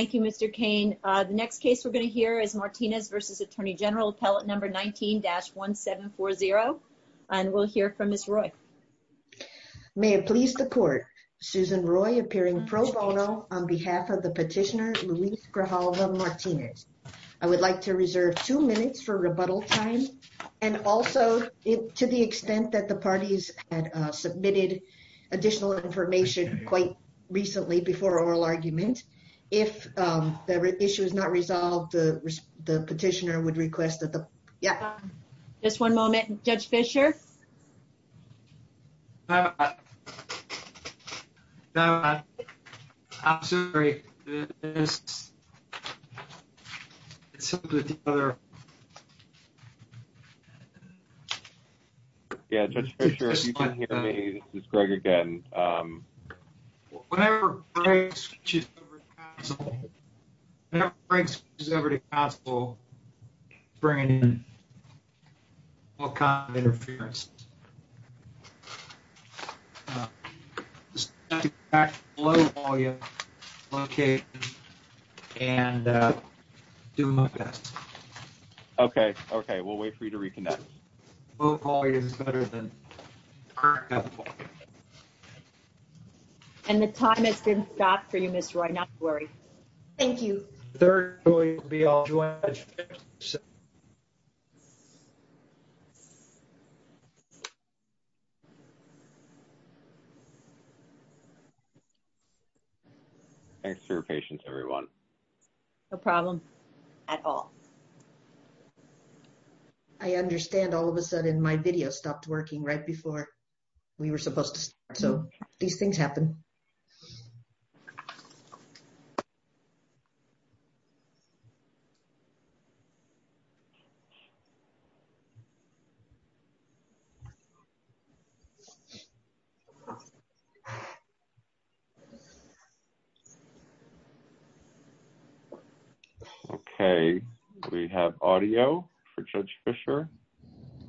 Thank you, Mr. Cain. The next case we're going to hear is Martinez v. Attorney General, appellate number 19-1740. And we'll hear from Ms. Roy. May it please the court, Susan Roy appearing pro bono on behalf of the petitioner, Luis Grijalva Martinez. I would like to reserve two minutes for rebuttal time. And also, to the extent that the parties had submitted additional information quite recently before oral argument, if the issue is not resolved, the petitioner would request that the, yeah. Just one moment. Judge Fisher? No, I'm sorry, it's something with the other. Yeah, Judge Fisher, if you can hear me, this is Greg again. Whenever Greg switches over to counsel, whenever Greg switches over to counsel, he's bringing in all kinds of interferences. Just have to go back to the low volume location and do my best. Low quality is better than current output. And the time has been stopped for you, Ms. Roy, not to worry. Thank you. Third jury will be all joined by Judge Fisher. Thanks for your patience, everyone. No problem at all. I understand all of a sudden my video stopped working right before we were supposed to start. So, these things happen. Okay, we have audio for Judge Fisher. I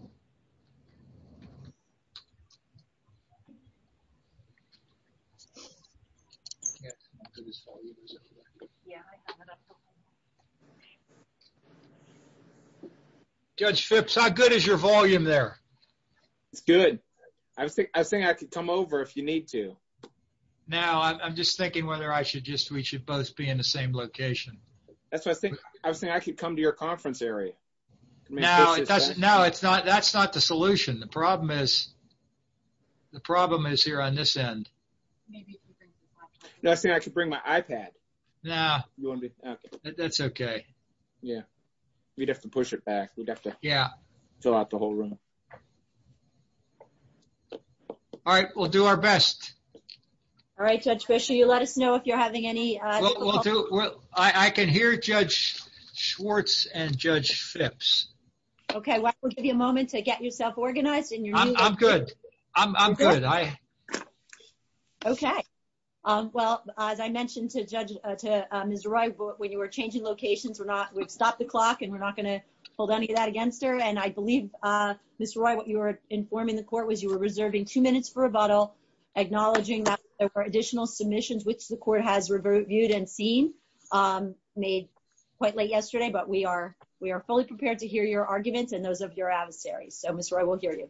can't hear this volume. Yeah, I have it up top. Judge Phipps, how good is your volume there? It's good. I was thinking I could come over if you need to. No, I'm just thinking whether we should both be in the same location. That's what I was thinking. I was thinking I could come to your conference area. No, that's not the solution. The problem is here on this end. I was thinking I could bring my iPad. No, that's okay. Yeah, we'd have to push it back. We'd have to fill out the whole room. All right, we'll do our best. All right, Judge Fisher, you let us know if you're having any... I can hear Judge Schwartz and Judge Phipps. Okay, we'll give you a moment to get yourself organized. I'm good, I'm good. Okay, well, as I mentioned to Ms. Roy, when you were changing locations, we've stopped the clock and we're not gonna hold any of that against her. And I believe, Ms. Roy, what you were informing the court was you were reserving two minutes for rebuttal, acknowledging that there were additional submissions, which the court has reviewed and seen, made quite late yesterday, but we are fully prepared to hear your arguments and those of your adversaries. So, Ms. Roy, we'll hear you.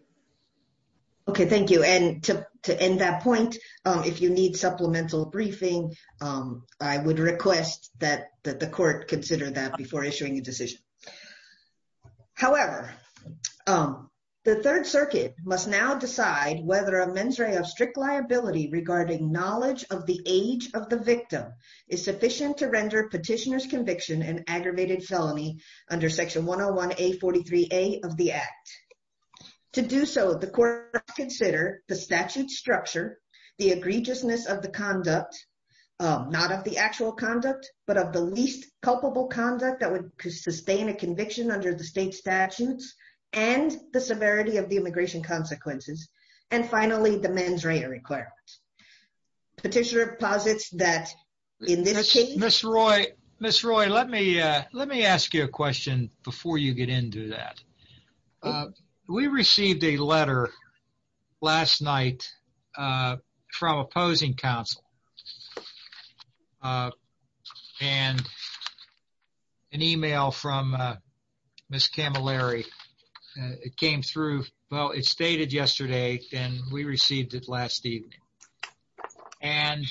Okay, thank you. And to end that point, if you need supplemental briefing, I would request that the court consider that before issuing a decision. However, the Third Circuit must now decide whether a mens rea of strict liability regarding knowledge of the age of the victim is sufficient to render petitioner's conviction an aggravated felony under Section 101A43A of the Act. To do so, the court must consider the statute structure, the egregiousness of the conduct, not of the actual conduct, but of the least culpable conduct that would sustain a conviction under the state statutes and the severity of the immigration consequences, and finally, the mens rea requirement. Petitioner posits that in this case- Ms. Roy, let me ask you a question before you get into that. We received a letter last night from opposing counsel and an email from Ms. Camilleri. It came through-well, it's dated yesterday and we received it last evening. And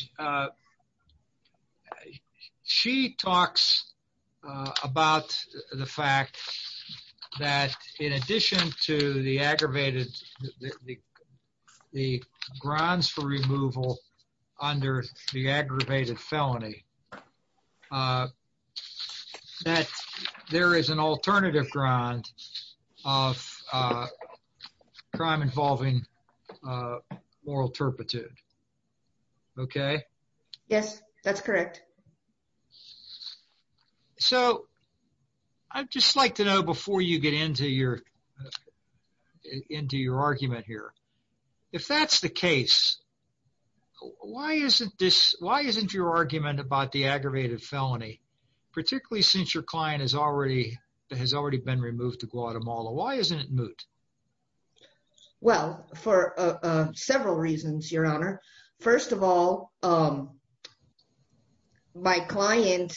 she talks about the fact that in addition to the aggravated-the grounds for removal under the aggravated felony, that there is an alternative ground of crime involving moral turpitude. Okay? Yes, that's correct. So I'd just like to know, before you get into your argument here, if that's the case, why isn't your argument about the aggravated felony, particularly since your client has already been removed to Guatemala, why isn't it moot? Well, for several reasons, Your Honor. First of all, my client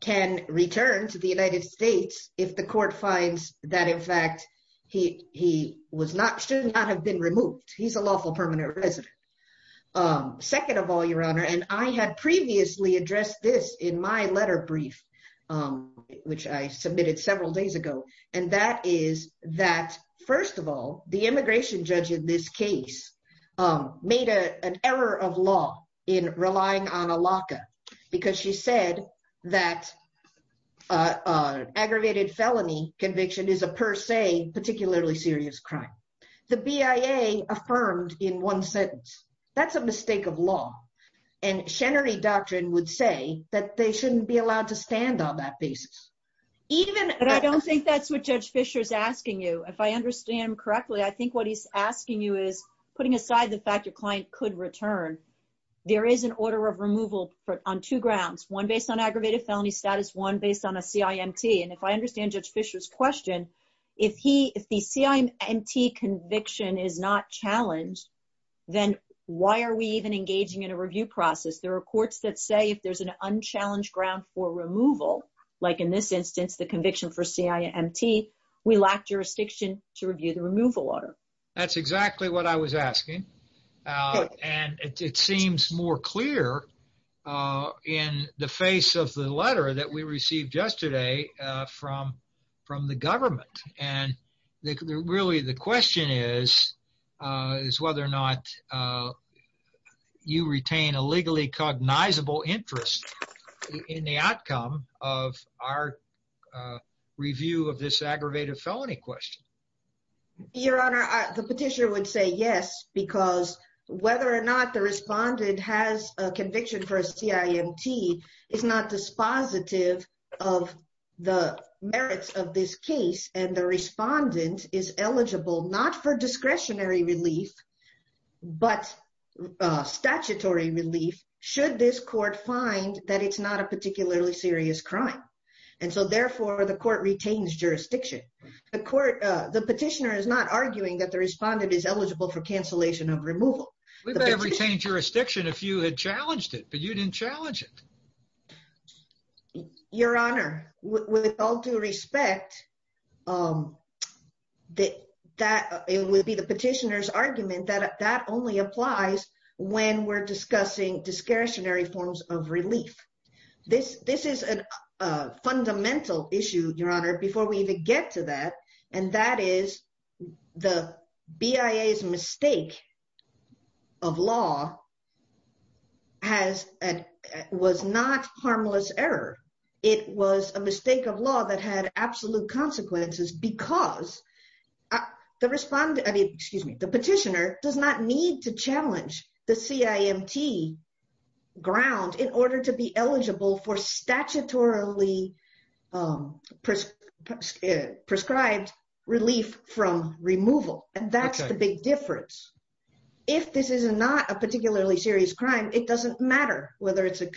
can return to the United States if the court finds that, in fact, he should not have been removed. He's a lawful permanent resident. Second of all, Your Honor, and I had previously addressed this in my letter brief, which I submitted several days ago, and that is that, first of all, the immigration judge in this case made an error of law in relying on a LACA, because she said that an aggravated felony conviction is a per se, particularly serious crime. The BIA affirmed in one sentence. That's a mistake of law. And Chenery Doctrine would say that they shouldn't be allowed to stand on that basis. But I don't think that's what Judge Fischer is asking you. If I understand correctly, I think what he's asking you is putting aside the fact your client could return. There is an order of removal on two grounds, one based on aggravated felony status, one based on a CIMT. And if I understand Judge Fischer's question, if the CIMT conviction is not challenged, then why are we even engaging in a review process? There are courts that say if there's an unchallenged ground for removal, like in this instance, the conviction for CIMT, we lack jurisdiction to review the removal order. That's exactly what I was asking. And it seems more clear in the face of the letter that we received yesterday from the government. And really the question is, is whether or not you retain a legally cognizable interest in the outcome of our review of this aggravated felony question? Your Honor, the petitioner would say yes, because whether or not the respondent has a conviction for a CIMT is not dispositive of the merits of this case. And the respondent is eligible, not for discretionary relief, but statutory relief, should this court find that it's not a particularly serious crime. And so therefore the court retains jurisdiction. The petitioner is not arguing that the respondent is eligible for cancellation of removal. We would have retained jurisdiction if you had challenged it, but you didn't challenge it. it would be the petitioner's argument that that only applies when we're discussing discretionary forms of relief. This is a fundamental issue, Your Honor, before we even get to that, and that is the BIA's mistake of law was not harmless error. It was a mistake of law that had absolute consequences because the petitioner does not need to challenge the CIMT ground in order to be eligible for statutorily prescribed relief from removal. And that's the big difference. If this is not a particularly serious crime, it doesn't matter whether it's a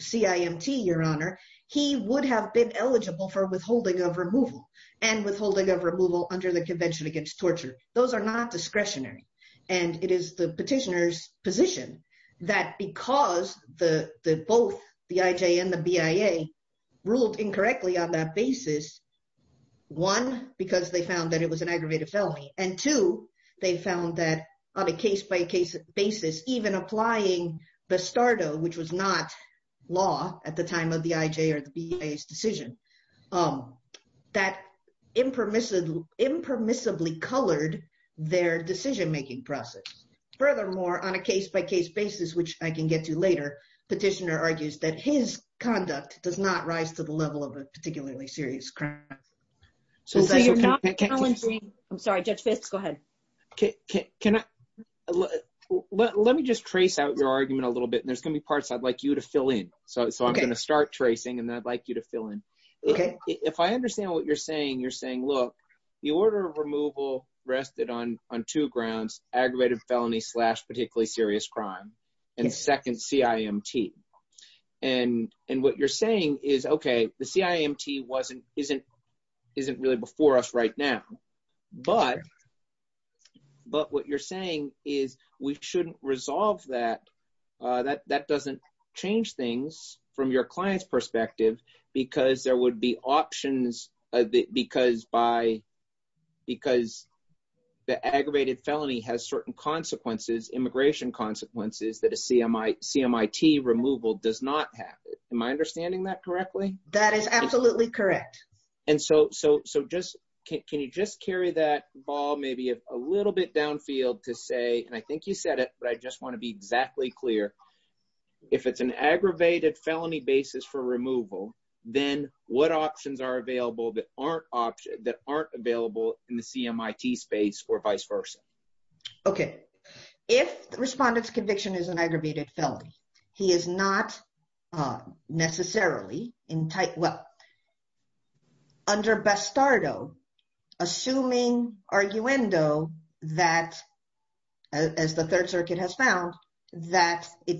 CIMT, Your Honor. He would have been eligible for withholding of removal. And withholding of removal under the Convention Against Torture. Those are not discretionary. And it is the petitioner's position that because both the IJ and the BIA ruled incorrectly on that basis, one, because they found that it was an aggravated felony, and two, they found that on a case-by-case basis, even applying Bastardo, which was not law at the time of the IJ or the BIA's decision, that impermissibly colored their decision-making process. Furthermore, on a case-by-case basis, which I can get to later, the petitioner argues that his conduct does not rise to the level of a particularly serious crime. So you're not challenging... I'm sorry, Judge Fisk, go ahead. Can I... Let me just trace out your argument a little bit. And there's going to be parts I'd like you to fill in. So I'm going to start tracing, and then I'd like you to fill in. If I understand what you're saying, you're saying, look, the order of removal rested on two grounds, aggravated felony slash particularly serious crime, and second, CIMT. And what you're saying is, OK, the CIMT isn't really before us right now. But... But what you're saying is we shouldn't resolve that. That doesn't change things from your client's perspective, because there would be options... Because by... Because the aggravated felony has certain consequences, immigration consequences, that a CIMT removal does not have. Am I understanding that correctly? That is absolutely correct. And so just... Can you just carry that ball maybe a little bit downfield to say... Just to be clear, if it's an aggravated felony basis for removal, then what options are available that aren't option... That aren't available in the CIMT space or vice versa? OK. If the respondent's conviction is an aggravated felony, he is not necessarily in tight... Well... Under Bastardo, assuming arguendo that... It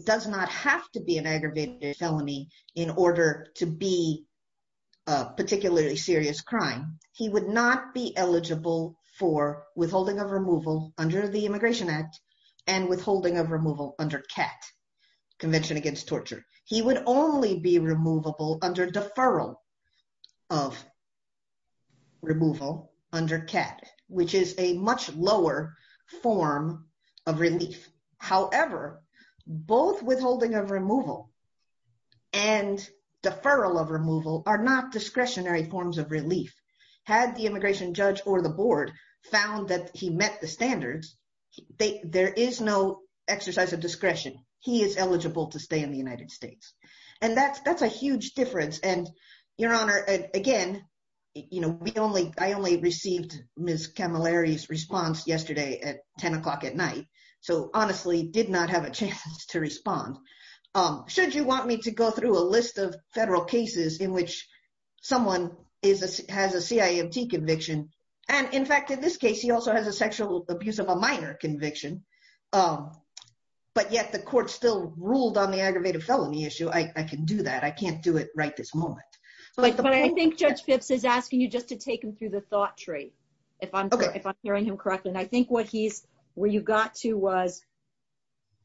does not have to be an aggravated felony in order to be a particularly serious crime. He would not be eligible for withholding of removal under the Immigration Act and withholding of removal under CAT, Convention Against Torture. He would only be removable under deferral of removal under CAT, which is a much lower form of relief. However, both withholding of removal and deferral of removal are not discretionary forms of relief. Had the immigration judge or the board found that he met the standards, there is no exercise of discretion. He is eligible to stay in the United States. And that's a huge difference. And, Your Honor, again, I only received Ms. Camilleri's response yesterday at 10 o'clock at night. So, honestly, did not have a chance to respond. Should you want me to go through a list of federal cases in which someone has a CIMT conviction? And, in fact, in this case, he also has a sexual abuse of a minor conviction. But yet the court still ruled on the aggravated felony issue. I can do that. I can't do it right this moment. But I think Judge Phipps is asking you just to take him through the thought tree, if I'm hearing him correctly. And I think what you got to was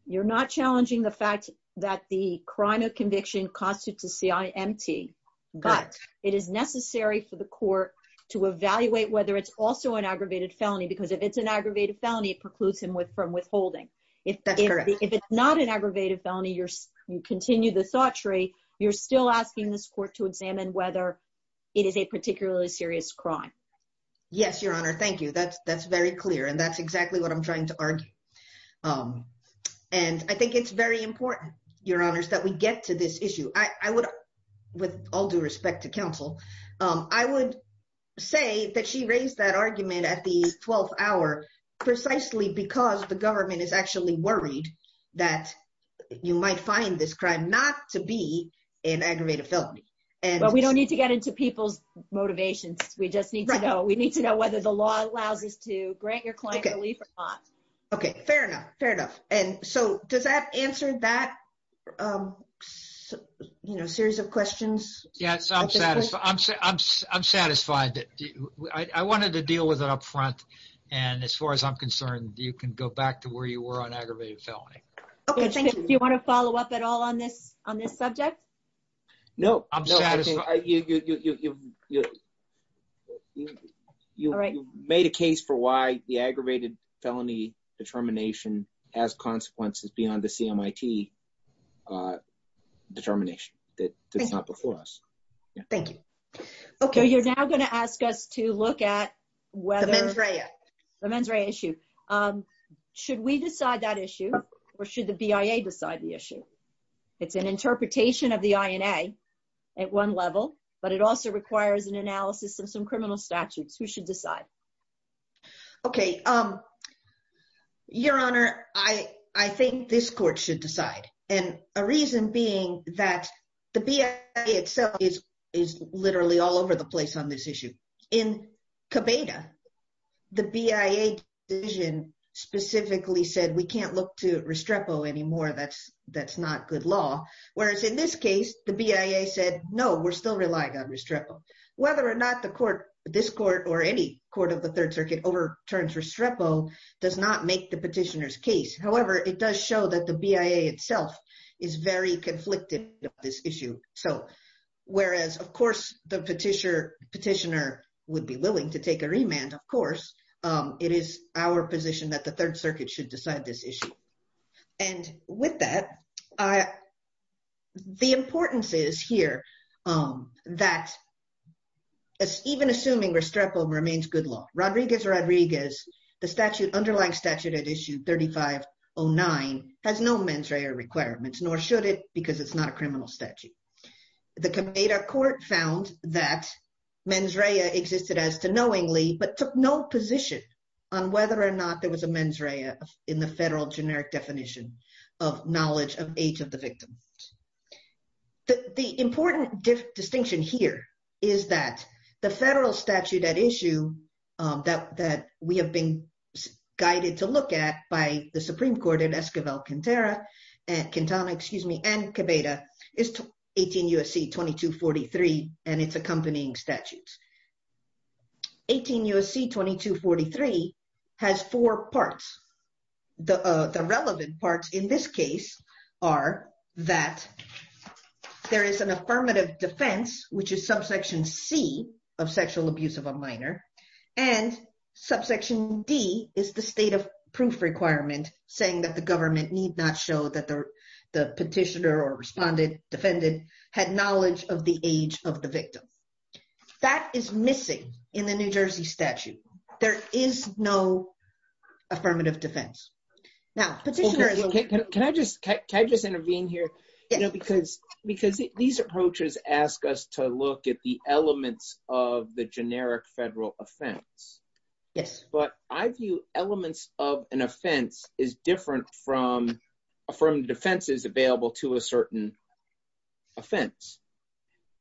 you're not challenging the fact that the crime of conviction constitutes a CIMT. But it is necessary for the court to evaluate whether it's also an aggravated felony because if it's an aggravated felony, it precludes him from withholding. If it's not an aggravated felony, you continue the thought tree. You're still asking this court to examine whether it is a particularly serious crime. Yes, Your Honor, thank you. That's very clear. And that's exactly what I'm trying to argue. And I think it's very important, Your Honors, that we get to this issue. I would, with all due respect to counsel, I would say that she raised that argument at the 12th hour precisely because the government is actually worried that you might find this crime not to be an aggravated felony. But we don't need to get into people's motivations. We just need to know. We need to know whether the law allows us to grant your client relief or not. Okay, fair enough. Fair enough. And so does that answer that series of questions? Yes, I'm satisfied. I wanted to deal with it up front. And as far as I'm concerned, you can go back to where you were on aggravated felony. Okay, thank you. Do you want to follow up at all on this subject? No. You made a case for why the aggravated felony determination has consequences beyond the CMIT determination that's not before us. Thank you. Okay, you're now going to ask us to look at whether- The mens rea. The mens rea issue. Should we decide that issue or should the BIA decide the issue? It's an interpretation of the INA at one level, but it also requires an analysis of some criminal statutes. Who should decide? Okay, Your Honor, I think this court should decide. And a reason being that the BIA itself is literally all over the place on this issue. In Cabeda, the BIA decision specifically said, we can't look to Restrepo anymore. That's not good law. Whereas in this case, the BIA said, no, we're still relying on Restrepo. Whether or not this court or any court of the Third Circuit overturns Restrepo does not make the petitioner's case. However, it does show that the BIA itself is very conflicted on this issue. Whereas, of course, the petitioner would be willing to take a remand, of course, it is our position that the Third Circuit should decide this issue. And with that, the importance is here that even assuming Restrepo remains good law, Rodriguez-Rodriguez, the underlying statute at issue 3509 has no mens rea requirements, nor should it because it's not a criminal statute. The Cabeda court found that mens rea existed as to knowingly, but took no position on whether or not there was a mens rea in the federal generic definition of knowledge of age of the victim. The important distinction here is that the federal statute at issue that we have been guided to look at by the Supreme Court at Esquivel-Quintero, Quintana, excuse me, and Cabeda is 18 U.S.C. 2243 and its accompanying statutes. 18 U.S.C. 2243 has four parts. The relevant parts in this case are that there is an affirmative defense, which is subsection C of sexual abuse of a minor, and subsection D is the state of proof requirement saying that the government need not show that the petitioner or respondent, defendant had knowledge of the age of the victim. That is missing in the New Jersey statute. There is no affirmative defense. Can I just intervene here? Yeah. Because these approaches ask us to look at the elements of the generic federal offense. Yes. But I view elements of an offense is different from affirmative defenses available to a certain offense.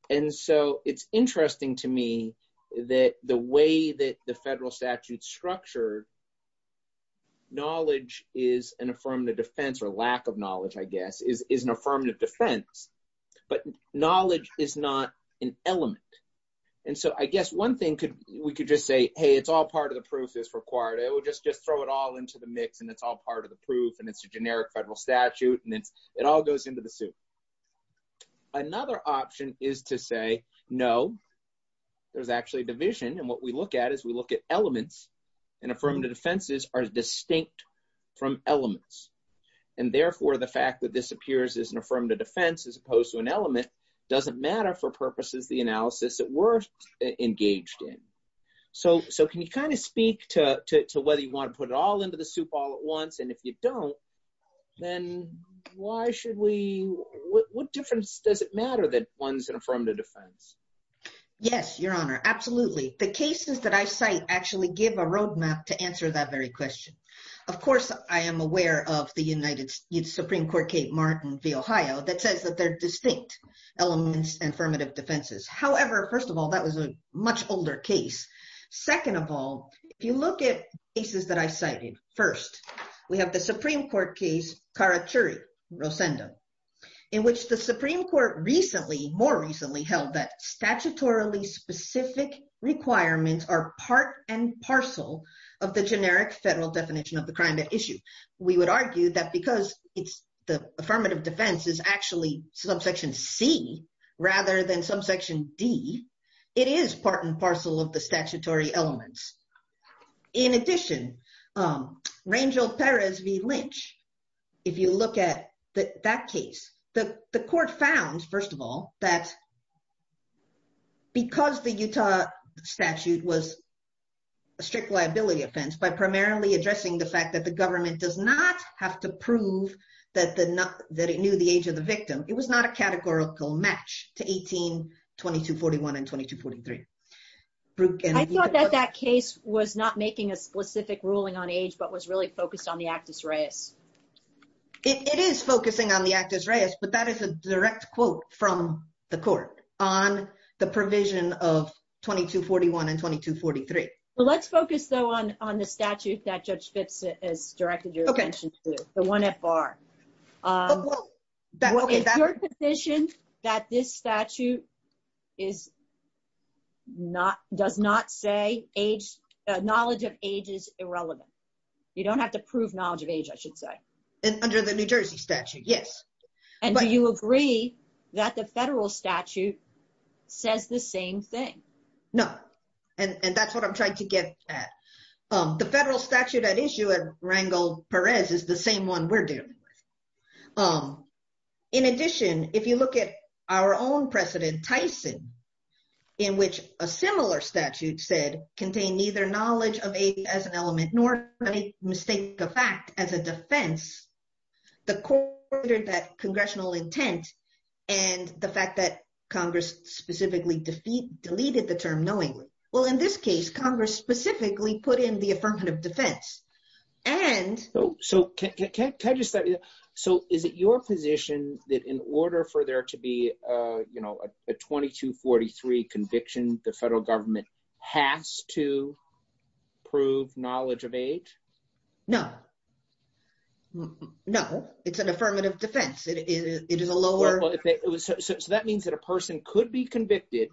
And so it's interesting to me that the way that the federal statute's structured, knowledge is an affirmative defense or lack of knowledge, I guess, is an affirmative defense, but knowledge is not an element. And so I guess one thing we could just say, hey, it's all part of the proof that's required. We'll just throw it all into the mix and it's all part of the proof and it's a generic federal statute and it all goes into the suit. Another option is to say, no, there's actually division. And what we look at is we look at elements and affirmative defenses are distinct from elements. And therefore the fact that this appears as an affirmative defense as opposed to an element doesn't matter for purposes of the analysis that we're engaged in. So can you kind of speak to whether you want to put it all into the soup all at once? And if you don't, then why should we, what difference does it matter that one's an affirmative defense? Yes, Your Honor, absolutely. The cases that I cite actually give a roadmap to answer that very question. Of course, I am aware of the United States Supreme Court, Kate Martin v. Ohio, that says that they're distinct elements and affirmative defenses. However, first of all, that was a much older case. Second of all, if you look at cases that I cited, first, we have the Supreme Court case, Karachuri v. Rosendo, in which the Supreme Court recently, more recently held that statutorily specific requirements are part and parcel of the generic federal definition of the crime at issue. We would argue that because the affirmative defense is actually subsection C rather than subsection D, it is part and parcel of the statutory elements. In addition, Rangel Perez v. Lynch, if you look at that case, the court found, first of all, that because the Utah statute was a strict liability offense by primarily addressing the fact that the government does not have to prove that it knew the age of the victim, it was not a categorical match to 18-2241 and 2243. I thought that that case was not making a specific ruling on age, but was really focused on the actus reus. It is focusing on the actus reus, but that is a direct quote from the court on the provision of 2241 and 2243. Well, let's focus, though, on the statute that Judge Fitz has directed your attention to, the 1FR. Is your position that this statute does not say knowledge of age is irrelevant? You don't have to prove knowledge of age, I should say. Under the New Jersey statute, yes. Do you agree that the federal statute says the same thing? No, and that's what I'm trying to get at. The federal statute at issue at Rangel Perez is the same one we're dealing with. In addition, if you look at our own precedent, Tyson, in which a similar statute said, contain neither knowledge of age as an element nor any mistake of fact as a defense, the court ordered that congressional intent and the fact that Congress specifically deleted the term knowingly. Well, in this case, Congress specifically put in the affirmative defense. So is it your position that in order for there to be a 2243 conviction, the federal government has to prove knowledge of age? No. No, it's an affirmative defense. It is a lower... So that means that a person could be convicted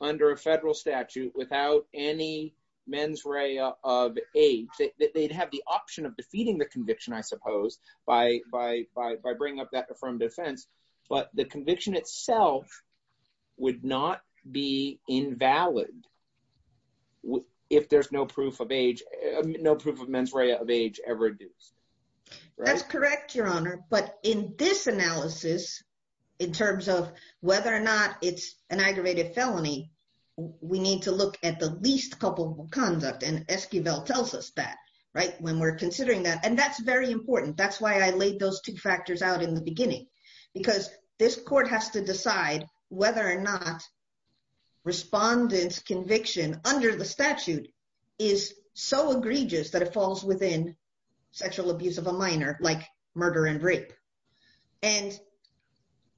under a federal statute without any mens rea of age. They'd have the option of defeating the conviction, I suppose, by bringing up that affirmative defense. But the conviction itself would not be invalid if there's no proof of age, no proof of mens rea of age ever induced. That's correct, Your Honor. But in this analysis, in terms of whether or not it's an aggravated felony, we need to look at the least culpable conduct. And Esquivel tells us that, right, when we're considering that. And that's very important. That's why I laid those two factors out in the beginning. Because this court has to decide whether or not respondent's conviction under the statute is so egregious that it falls within sexual abuse of a minor like murder and rape. And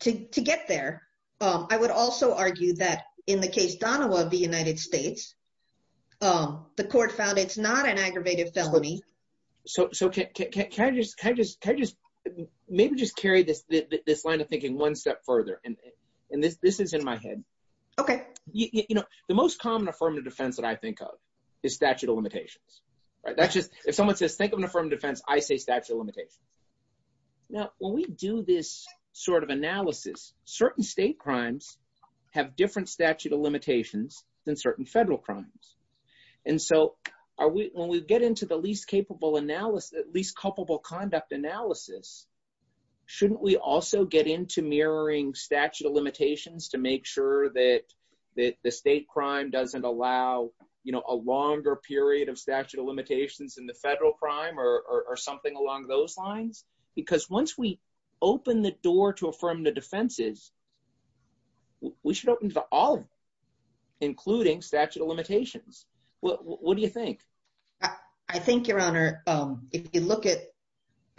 to get there, I would also argue that in the case Donahua of the United States, the court found it's not an aggravated felony. So can I just maybe just carry this line of thinking one step further? And this is in my head. Okay. You know, the most common affirmative defense that I think of is statute of limitations, right? That's just, if someone says, think of an affirmative defense, I say statute of limitations. Now, when we do this sort of analysis, certain state crimes have different statute of limitations than certain federal crimes. And so when we get into the least capable analysis, least culpable conduct analysis, shouldn't we also get into mirroring statute of limitations to make sure that the state crime doesn't allow, you know, a longer period of statute of limitations in the federal crime or something along those lines? Because once we open the door to affirmative defenses, we should open to all of them, including statute of limitations. What do you think? I think your honor, if you look at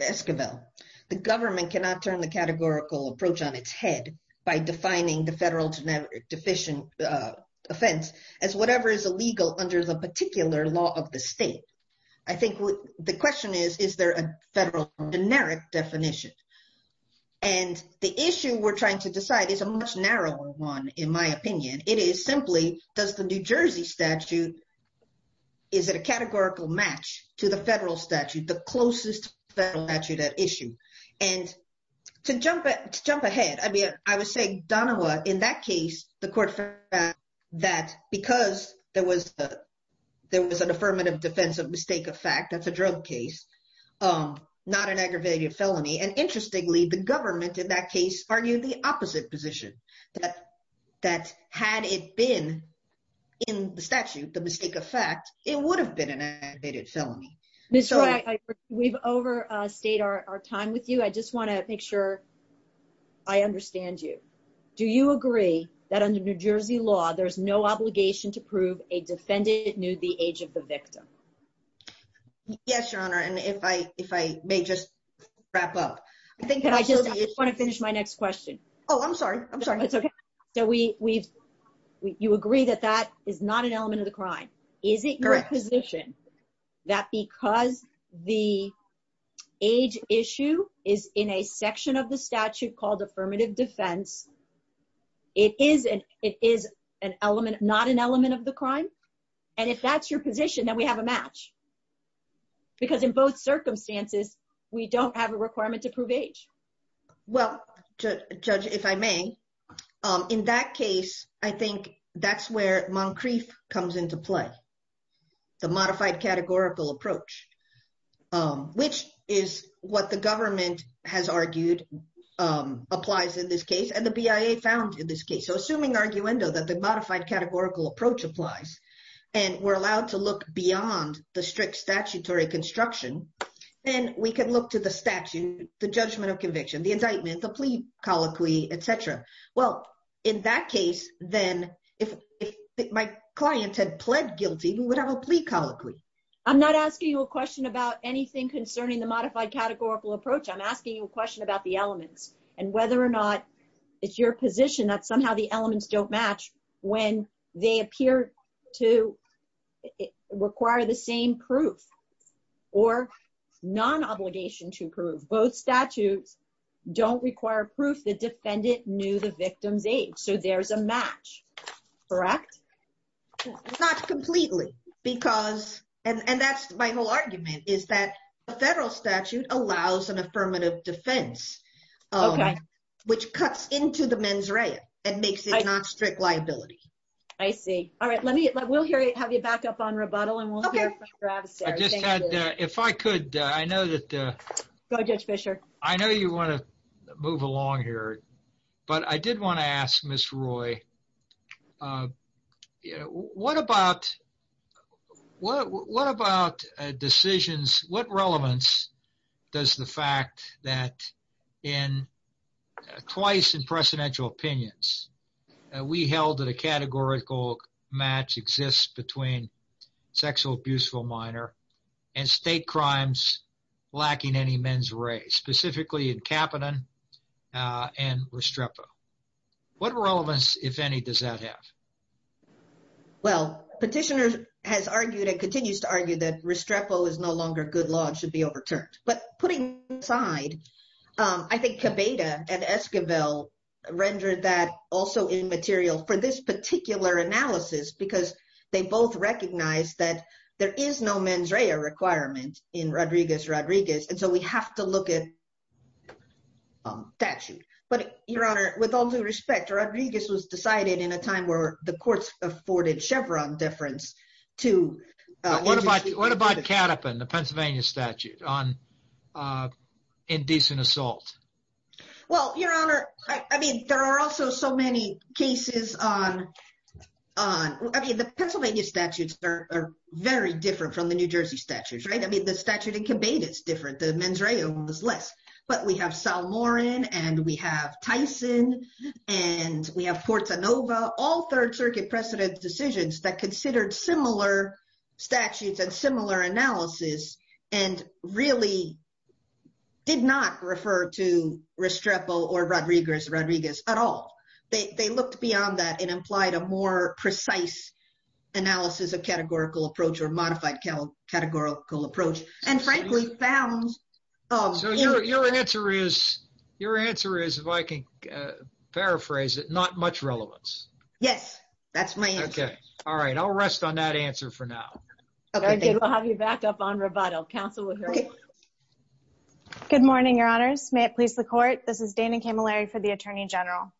Esquivel, the government cannot turn the categorical approach on its head by defining the federal deficient offense as whatever is illegal under the particular law of the state. I think the question is, is there a federal generic definition? And the issue we're trying to decide is a much narrower one, in my opinion. It is simply, does the New Jersey statute, is it a categorical match to the federal statute, the closest federal statute at issue? And to jump ahead, I mean, I would say Donahue, in that case, the court found that because there was an affirmative defense of mistake of fact, that's a drug case, not an aggravated felony. And interestingly, the government, in that case, argued the opposite position, that had it been in the statute, the mistake of fact, it would have been an aggravated felony. Ms. Wright, we've overstayed our time with you. I just want to make sure I understand you. Do you agree that under New Jersey law, there's no obligation to prove a defendant knew the age of the victim? Yes, your honor. And if I may just wrap up. I just want to finish my next question. Oh, I'm sorry. I'm sorry. It's okay. So you agree that that is not an element of the crime. Is it your position that because the age issue is in a section of the statute called affirmative defense, it is not an element of the crime? And if that's your position, then we have a match. Because in both circumstances, we don't have a requirement to prove age. Well, judge, if I may. In that case, I think that's where Moncrief comes into play. The modified categorical approach, which is what the government has argued applies in this case, and the BIA found in this case. So assuming arguendo, that the modified categorical approach applies, and we're allowed to look beyond the strict statutory construction, then we can look to the statute, the judgment of conviction, the indictment, the plea colloquy, et cetera. Well, in that case, then, if my client had pled guilty, we would have a plea colloquy. I'm not asking you a question about anything concerning the modified categorical approach. I'm asking you a question about the elements and whether or not it's your opinion that the elements don't match when they appear to require the same proof or non-obligation to prove. Both statutes don't require proof the defendant knew the victim's age. So there's a match, correct? Not completely. Because, and that's my whole argument, is that the federal statute allows an affirmative defense, which cuts into the mens rea and makes it non-strict liability. I see. All right. We'll have you back up on rebuttal and we'll hear from Mr. Avestero. I just had, if I could, I know that. Go, Judge Fischer. I know you want to move along here, but I did want to ask Ms. Roy, what about decisions, what relevance does the fact that in twice in presidential opinions, we held that a categorical match exists between sexual abuse for a minor and state crimes lacking any mens rea, specifically in Kapanen and Restrepo. What relevance, if any, does that have? Well, petitioner has argued, and continues to argue that Restrepo is no longer good law and should be overturned. But putting aside, I think Cabeda and Esquivel rendered that also immaterial for this particular analysis, because they both recognize that there is no mens rea requirement in Rodriguez-Rodriguez. And so we have to look at statute, but Your Honor, with all due respect, Rodriguez was decided in a time where the courts afforded Chevron difference to- What about Kapanen, the Pennsylvania statute on indecent assault? Well, Your Honor, I mean, there are also so many cases on, I mean, the Pennsylvania statutes are very different from the New Jersey statutes, right? I mean, the statute in Cabeda is different, the mens rea is less, but we have Salmorin and we have Tyson and we have Portanova, all third circuit precedent decisions that considered similar statutes and similar analysis and really did not refer to Restrepo or Rodriguez-Rodriguez at all. They looked beyond that and implied a more precise analysis of categorical approach or modified categorical approach and frankly found- So your answer is, your answer is, if I can paraphrase it, there's not much relevance. Yes, that's my answer. Okay. All right. I'll rest on that answer for now. We'll have you back up on rebuttal. Counsel will hear from you. Good morning, Your Honors. May it please the court. This is Dana Camilleri for the Attorney General.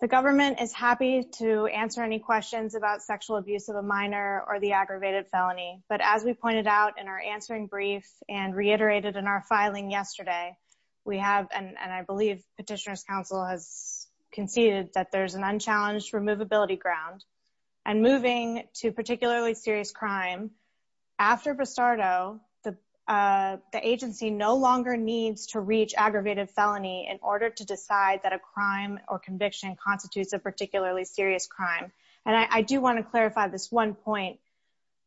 The government is happy to answer any questions about sexual abuse of a minor or the aggravated felony, but as we pointed out in our answering brief and reiterated in our filing yesterday, we have, and I believe Petitioner's Counsel has conceded that there's an unchallenged removability ground and moving to particularly serious crime after Bristardo, the agency no longer needs to reach aggravated felony in order to decide that a crime or conviction constitutes a particularly serious crime. And I do want to clarify this one point.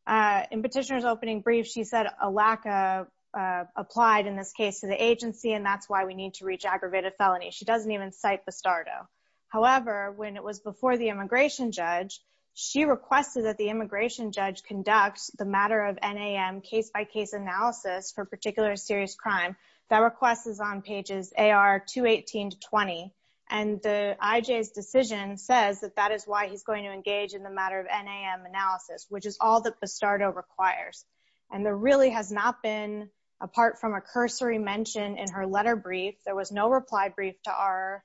In Petitioner's opening brief, she said a lack of applied in this case to the agency, and that's why we need to reach aggravated felony. She doesn't even cite Bristardo. However, when it was before the immigration judge, she requested that the immigration judge conducts the matter of NAM case by case analysis for particular serious crime. That request is on pages AR 218 to 20. And the IJ's decision says that that is why he's going to engage in the matter of NAM analysis, which is all that Bristardo requires. And there really has not been, apart from a cursory mention in her letter brief, there was no reply brief to our,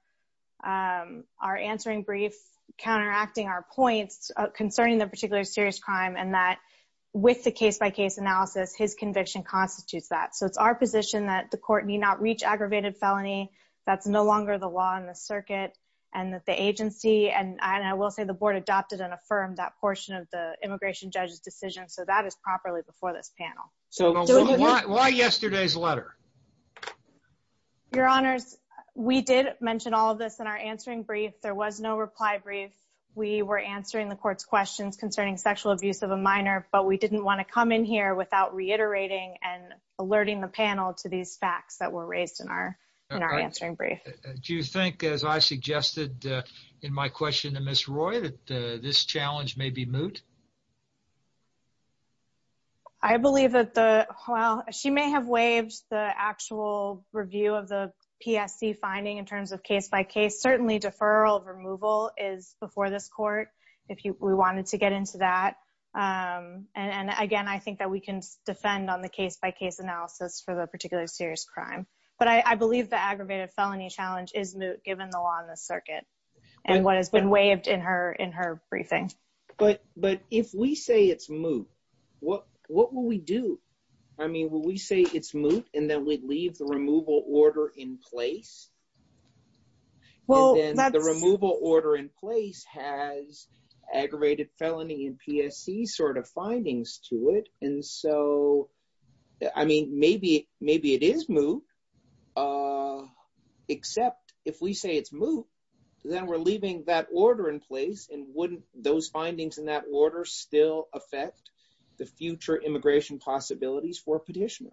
our answering brief, counteracting our points concerning the particular serious crime and that with the case by case analysis, his conviction constitutes that. So it's our position that the court need not reach aggravated felony. That's no longer the law in the circuit and that the agency, and I will say the board adopted and affirmed that portion of the before this panel. So why yesterday's letter? Your honors, we did mention all of this in our answering brief. There was no reply brief. We were answering the court's questions concerning sexual abuse of a minor, but we didn't want to come in here without reiterating and alerting the panel to these facts that were raised in our, in our answering brief. Do you think, as I suggested in my question to Ms. Roy, that this challenge may be moot? I believe that the, well, she may have waived the actual review of the PSC finding in terms of case by case. Certainly deferral of removal is before this court. If we wanted to get into that. And again, I think that we can defend on the case by case analysis for the particular serious crime. But I believe the aggravated felony challenge is moot given the law in the court. the removal order in her briefing. But, but if we say it's moot. What will we do? I mean, will we say it's moot and then we'd leave the removal order in place. Well, The removal order in place has. Aggravated felony in PSC sort of findings to it. And so. I mean, maybe, maybe it is moot. Except if we say it's moot, then we're leaving that order in place and wouldn't those findings in that order still affect the future immigration possibilities for petitioner?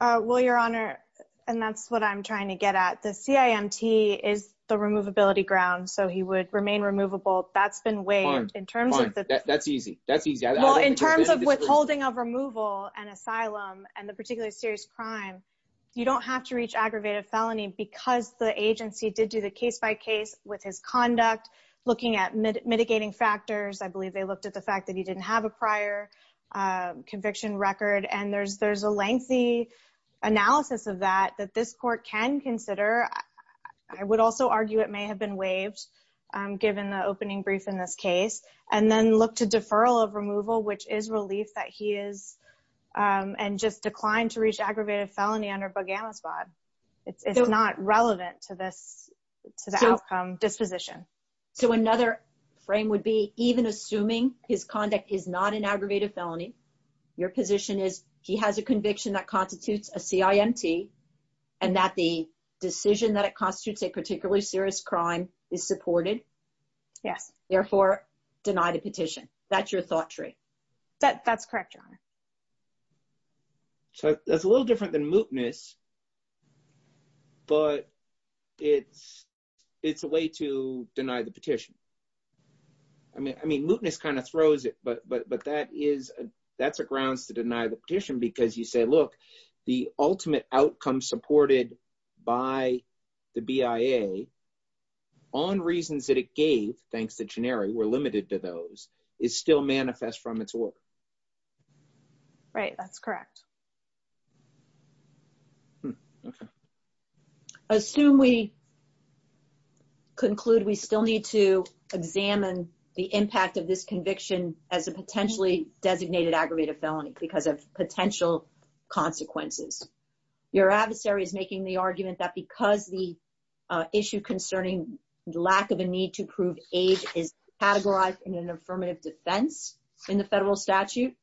Well, your honor. And that's what I'm trying to get at. The CIMT is the removability ground. So he would remain removable. That's been waived in terms of that. That's easy. That's easy. In terms of withholding of removal and asylum and the particular serious crime. You don't have to reach aggravated felony because the agency did do the case by case with his conduct, looking at mitigating factors. I believe they looked at the fact that he didn't have a prior conviction record. And there's, there's a lengthy. Analysis of that, that this court can consider. I would also argue it may have been waived. Given the opening brief in this case and then look to deferral of removal, which is relief that he is. And just declined to reach aggravated felony under Bogama spot. It's not relevant to this, to the outcome disposition. So another frame would be even assuming his conduct is not an aggravated felony. Your position is he has a conviction that constitutes a CIMT and that the decision that it constitutes a particularly serious crime is supported. Yes. Therefore deny the petition. That's your thought tree. That's correct, John. So that's a little different than mootness, but it's, it's a way to deny the petition. I mean, I mean, mootness kind of throws it, but, but, but that is, that's a grounds to deny the petition because you say, look, the ultimate outcome supported by the BIA on reasons that it gave, thanks to generic, we're limited to those is still manifest from its work, right? That's correct. Assume we conclude, we still need to examine the impact of this conviction as a potentially designated aggravated felony because of potential consequences. Your adversary is making the argument that because the issue concerning lack of a need to prove age is categorized in an affirmative defense in the federal statute,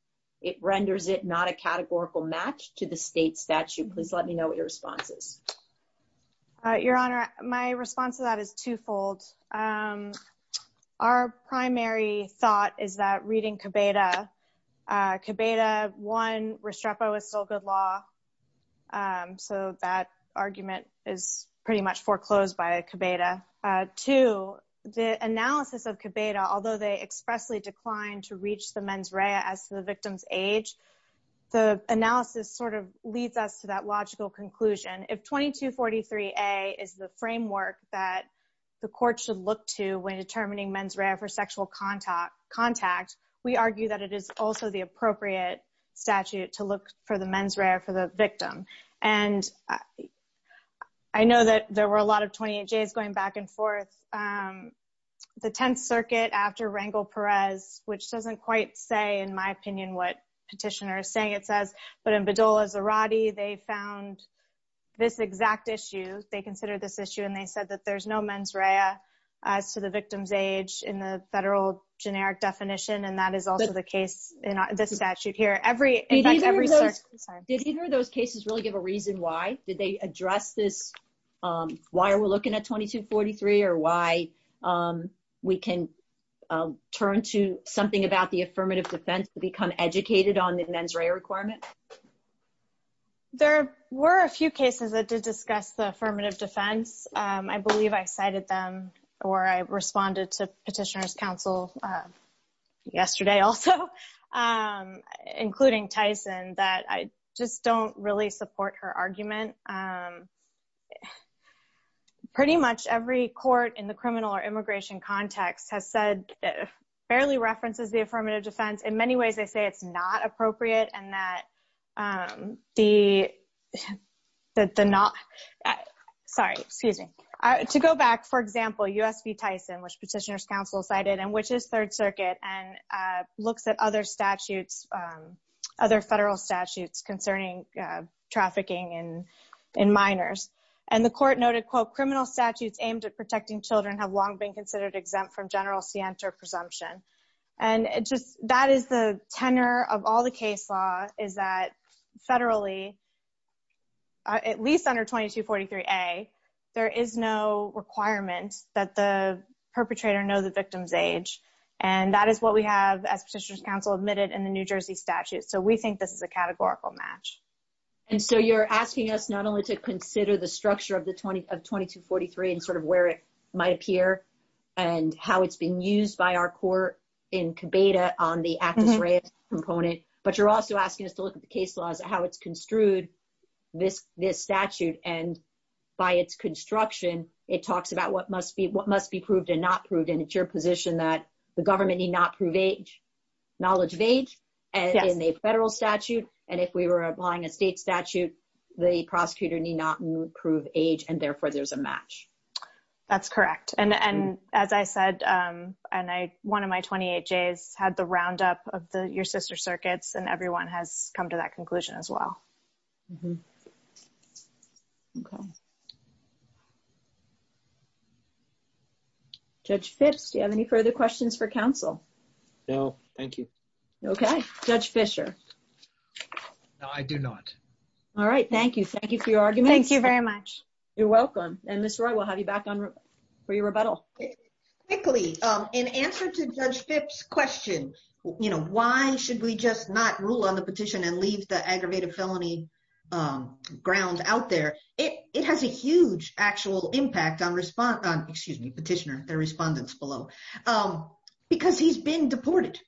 it renders it not a categorical match to the state statute. Please let me know what your response is. Your honor. My response to that is twofold. Our primary thought is that reading cabata cabata one Restrepo is still good law. So that argument is pretty much foreclosed by a cabata. Two, the analysis of cabata, although they expressly declined to reach the mens rea as the victim's age, the analysis sort of leads us to that logical conclusion. If 22 43 a is the framework that the court should look to when determining mens rea for sexual contact contact, we argue that it is also the appropriate statute to look for the mens rea for the victim. And I know that there were a lot of 28 J's going back and forth, um, the 10th circuit after Rangel Perez, which doesn't quite say in my opinion, what petitioner is saying, it says, but in Bedolla's Irati, they found this exact issue. They consider this issue and they said that there's no mens rea as to the victim's age in the federal generic definition. And that is also the case in this statute here. Every, did either of those cases really give a reason why did they address this? Um, why are we looking at 22 43 or why, um, we can turn to something about the affirmative defense to become educated on the mens rea requirement? There were a few cases that did discuss the affirmative defense. Um, I believe I cited them or I responded to petitioners council, uh, yesterday also, um, including Tyson that I just don't really support her argument. Um, pretty much every court in the criminal or immigration context has said, barely references the affirmative defense in many ways. They say it's not appropriate. And that, um, the, that the not, sorry, excuse me, to go back, for example, USB Tyson, which petitioners council cited and which is third circuit and, uh, looks at other statutes, um, other federal statutes concerning, uh, in minors and the court noted quote, criminal statutes aimed at protecting children have long been considered exempt from general Sienta presumption. And it just, that is the tenor of all the case law is that federally, uh, at least under 22 43 a, there is no requirement that the perpetrator know the victim's age. And that is what we have as petitioners council admitted in the New Jersey statute. So we think this is a categorical match. And so you're asking us not only to consider the structure of the 20 of 22 43 and sort of where it might appear and how it's being used by our court in Kibeda on the act component, but you're also asking us to look at the case laws, how it's construed this, this statute. And by its construction, it talks about what must be, what must be proved and not proved. And it's your position that the government need not prove age knowledge of age and in a federal statute. And if we were applying a state statute, the prosecutor need not prove age. And therefore there's a match. That's correct. And, and as I said, um, and I, one of my 28 J's had the roundup of the, your sister circuits and everyone has come to that conclusion as well. Okay. Judge Fitz, do you have any further questions for council? No, thank you. Okay. Judge Fisher. No, I do not. All right. Thank you. Thank you for your argument. Thank you very much. You're welcome. And Ms. Roy, we'll have you back on for your rebuttal. Quickly. Um, in answer to judge Fitz question, you know, why should we just not rule on the petition and leave the aggravated felony, um, ground out there? It, it has a huge actual impact on response on, excuse me, petitioner, the respondents below, um, because he's been deported.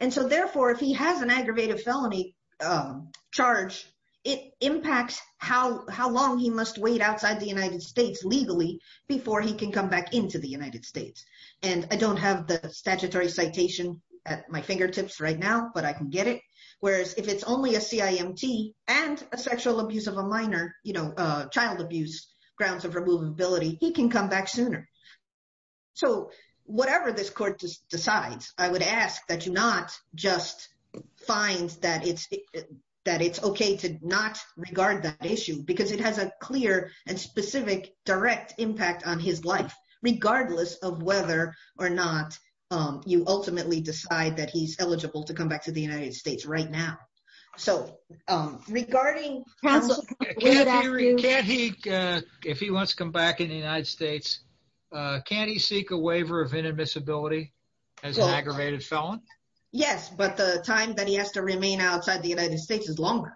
And so therefore, if he has an aggravated felony, um, charge, it impacts how, how long he must wait outside the United States legally before he can come back into the United States. And I don't have the statutory citation at my fingertips right now, but I can get it. Whereas if it's only a CIMT and a sexual abuse of a minor, you know, uh, child abuse grounds of removability, he can come back sooner. So whatever this court decides, I would ask that you not just find that it's, that it's okay to not regard that issue because it has a clear and specific direct impact on his life, regardless of whether or not, um, you ultimately decide that he's eligible to come back to the United States right now. So, um, regarding. Can't he, can't he, uh, if he wants to come back in the United States, uh, can he seek a waiver of inadmissibility as an aggravated felon? Yes, but the time that he has to remain outside the United States is longer.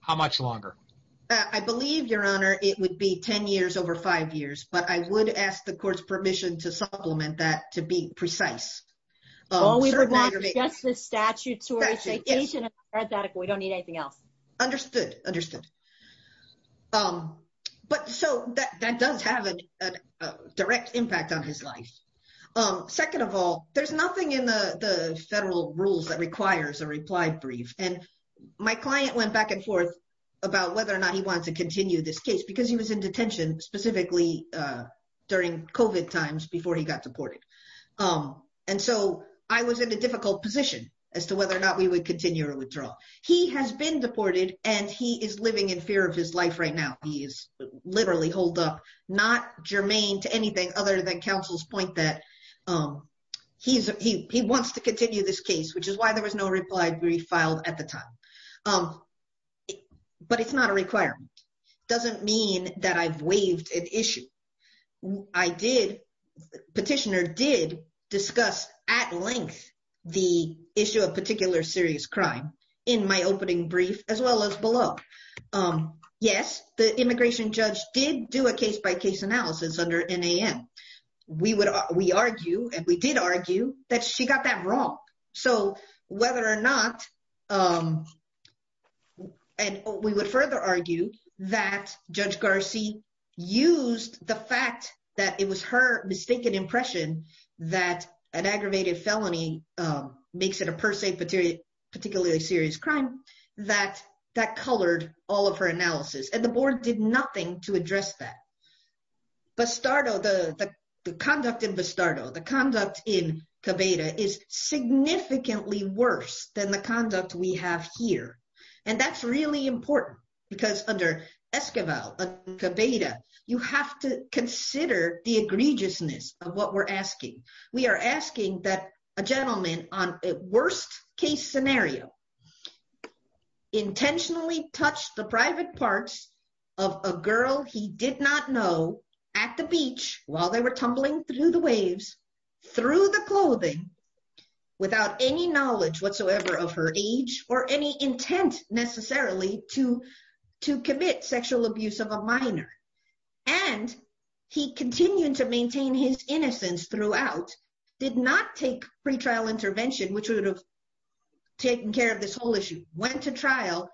How much longer? I believe your honor, it would be 10 years over five years, but I would ask the court's permission to supplement that to be precise. Oh, we would not suggest the statutory citation. We don't need anything else. Understood. Understood. Um, but so that, that does have a direct impact on his life. Um, second of all, there's nothing in the federal rules that requires a reply brief. And my client went back and forth about whether or not he wants to continue this case because he was in detention specifically, uh, during COVID times before he got deported. Um, and so I was in a difficult position as to whether or not we would continue or withdraw. He has been deported and he is living in fear of his life right now. He is literally hold up, not germane to anything other than counsel's point that, um, he's, he wants to continue this case, which is why there was no reply brief filed at the time. Um, but it's not a requirement. Doesn't mean that I've waived an issue. I did petitioner did discuss at length the issue of particular serious crime in my opening brief, as well as below. Um, yes, the immigration judge did do a case by case analysis under NAM. We would, we argue, and we did argue that she got that wrong. So whether or not, um, and we would further argue that judge Garcia used the fact that it was her mistaken impression that an aggravated felony, um, makes it a per se particularly serious crime that, that colored all of her analysis and the board did nothing to address that. But start, oh, the, the, the conduct in Vistardo, the conduct in Cabeda is significantly worse than the conduct we have here. And that's really important because under Esquivel Cabeda, you have to consider the egregiousness of what we're asking. We are asking that a gentleman on a worst case scenario intentionally touched the private parts of a girl he did not know at the beach while they were tumbling through the waves, through the clothing without any knowledge whatsoever of her age or any intent necessarily to, to commit sexual abuse of a minor. And he continued to maintain his innocence throughout, did not take pretrial intervention, which would have taken care of this whole issue went to trial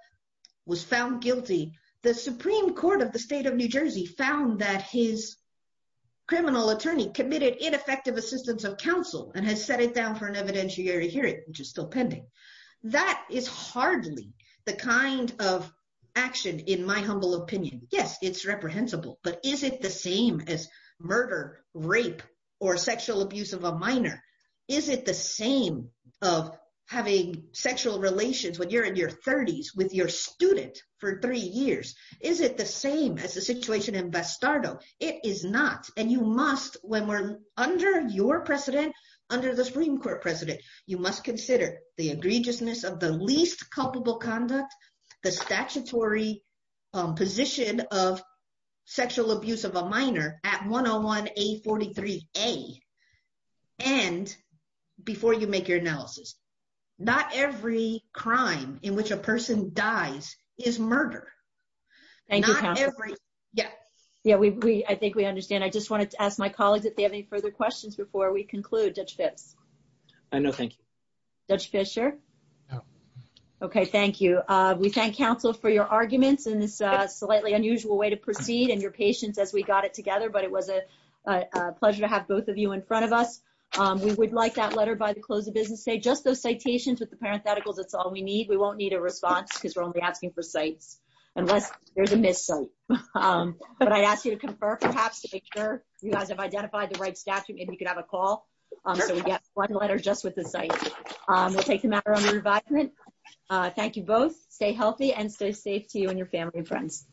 was found guilty. The Supreme court of the state of New Jersey found that his criminal attorney committed ineffective assistance of counsel and has set it down for an evidentiary hearing, which is still pending. That is hardly the kind of action in my humble opinion. Yes, it's reprehensible, but is it the same as murder, rape or sexual abuse of a minor? Is it the same of having sexual relations when you're in your thirties with your student for three years? Is it the same as the situation in Vistardo? It is not. And you must, when we're under your precedent, under the Supreme court precedent, you must consider the egregiousness of the least culpable conduct, the statutory position of sexual abuse of a minor at 101A43A. And before you make your analysis, not every crime in which a person dies is murder. Thank you. Yeah. Yeah. We, we, I think we understand. I just wanted to ask my colleagues if they have any further questions before we conclude judge Phipps. I know. Thank you. Judge Fisher. Okay. Thank you. We thank counsel for your arguments in this slightly unusual way to proceed and your patience as we got it together. But it was a pleasure to have both of you in front of us. We would like that letter by the close of business. Say just those citations with the parentheticals. That's all we need. We won't need a response because we're only asking for sites unless there's a miss site, but I asked you to confer perhaps to make sure you guys have a call. So we get one letter just with the site. We'll take them out around the environment. Thank you both. Stay healthy and stay safe to you and your family and friends.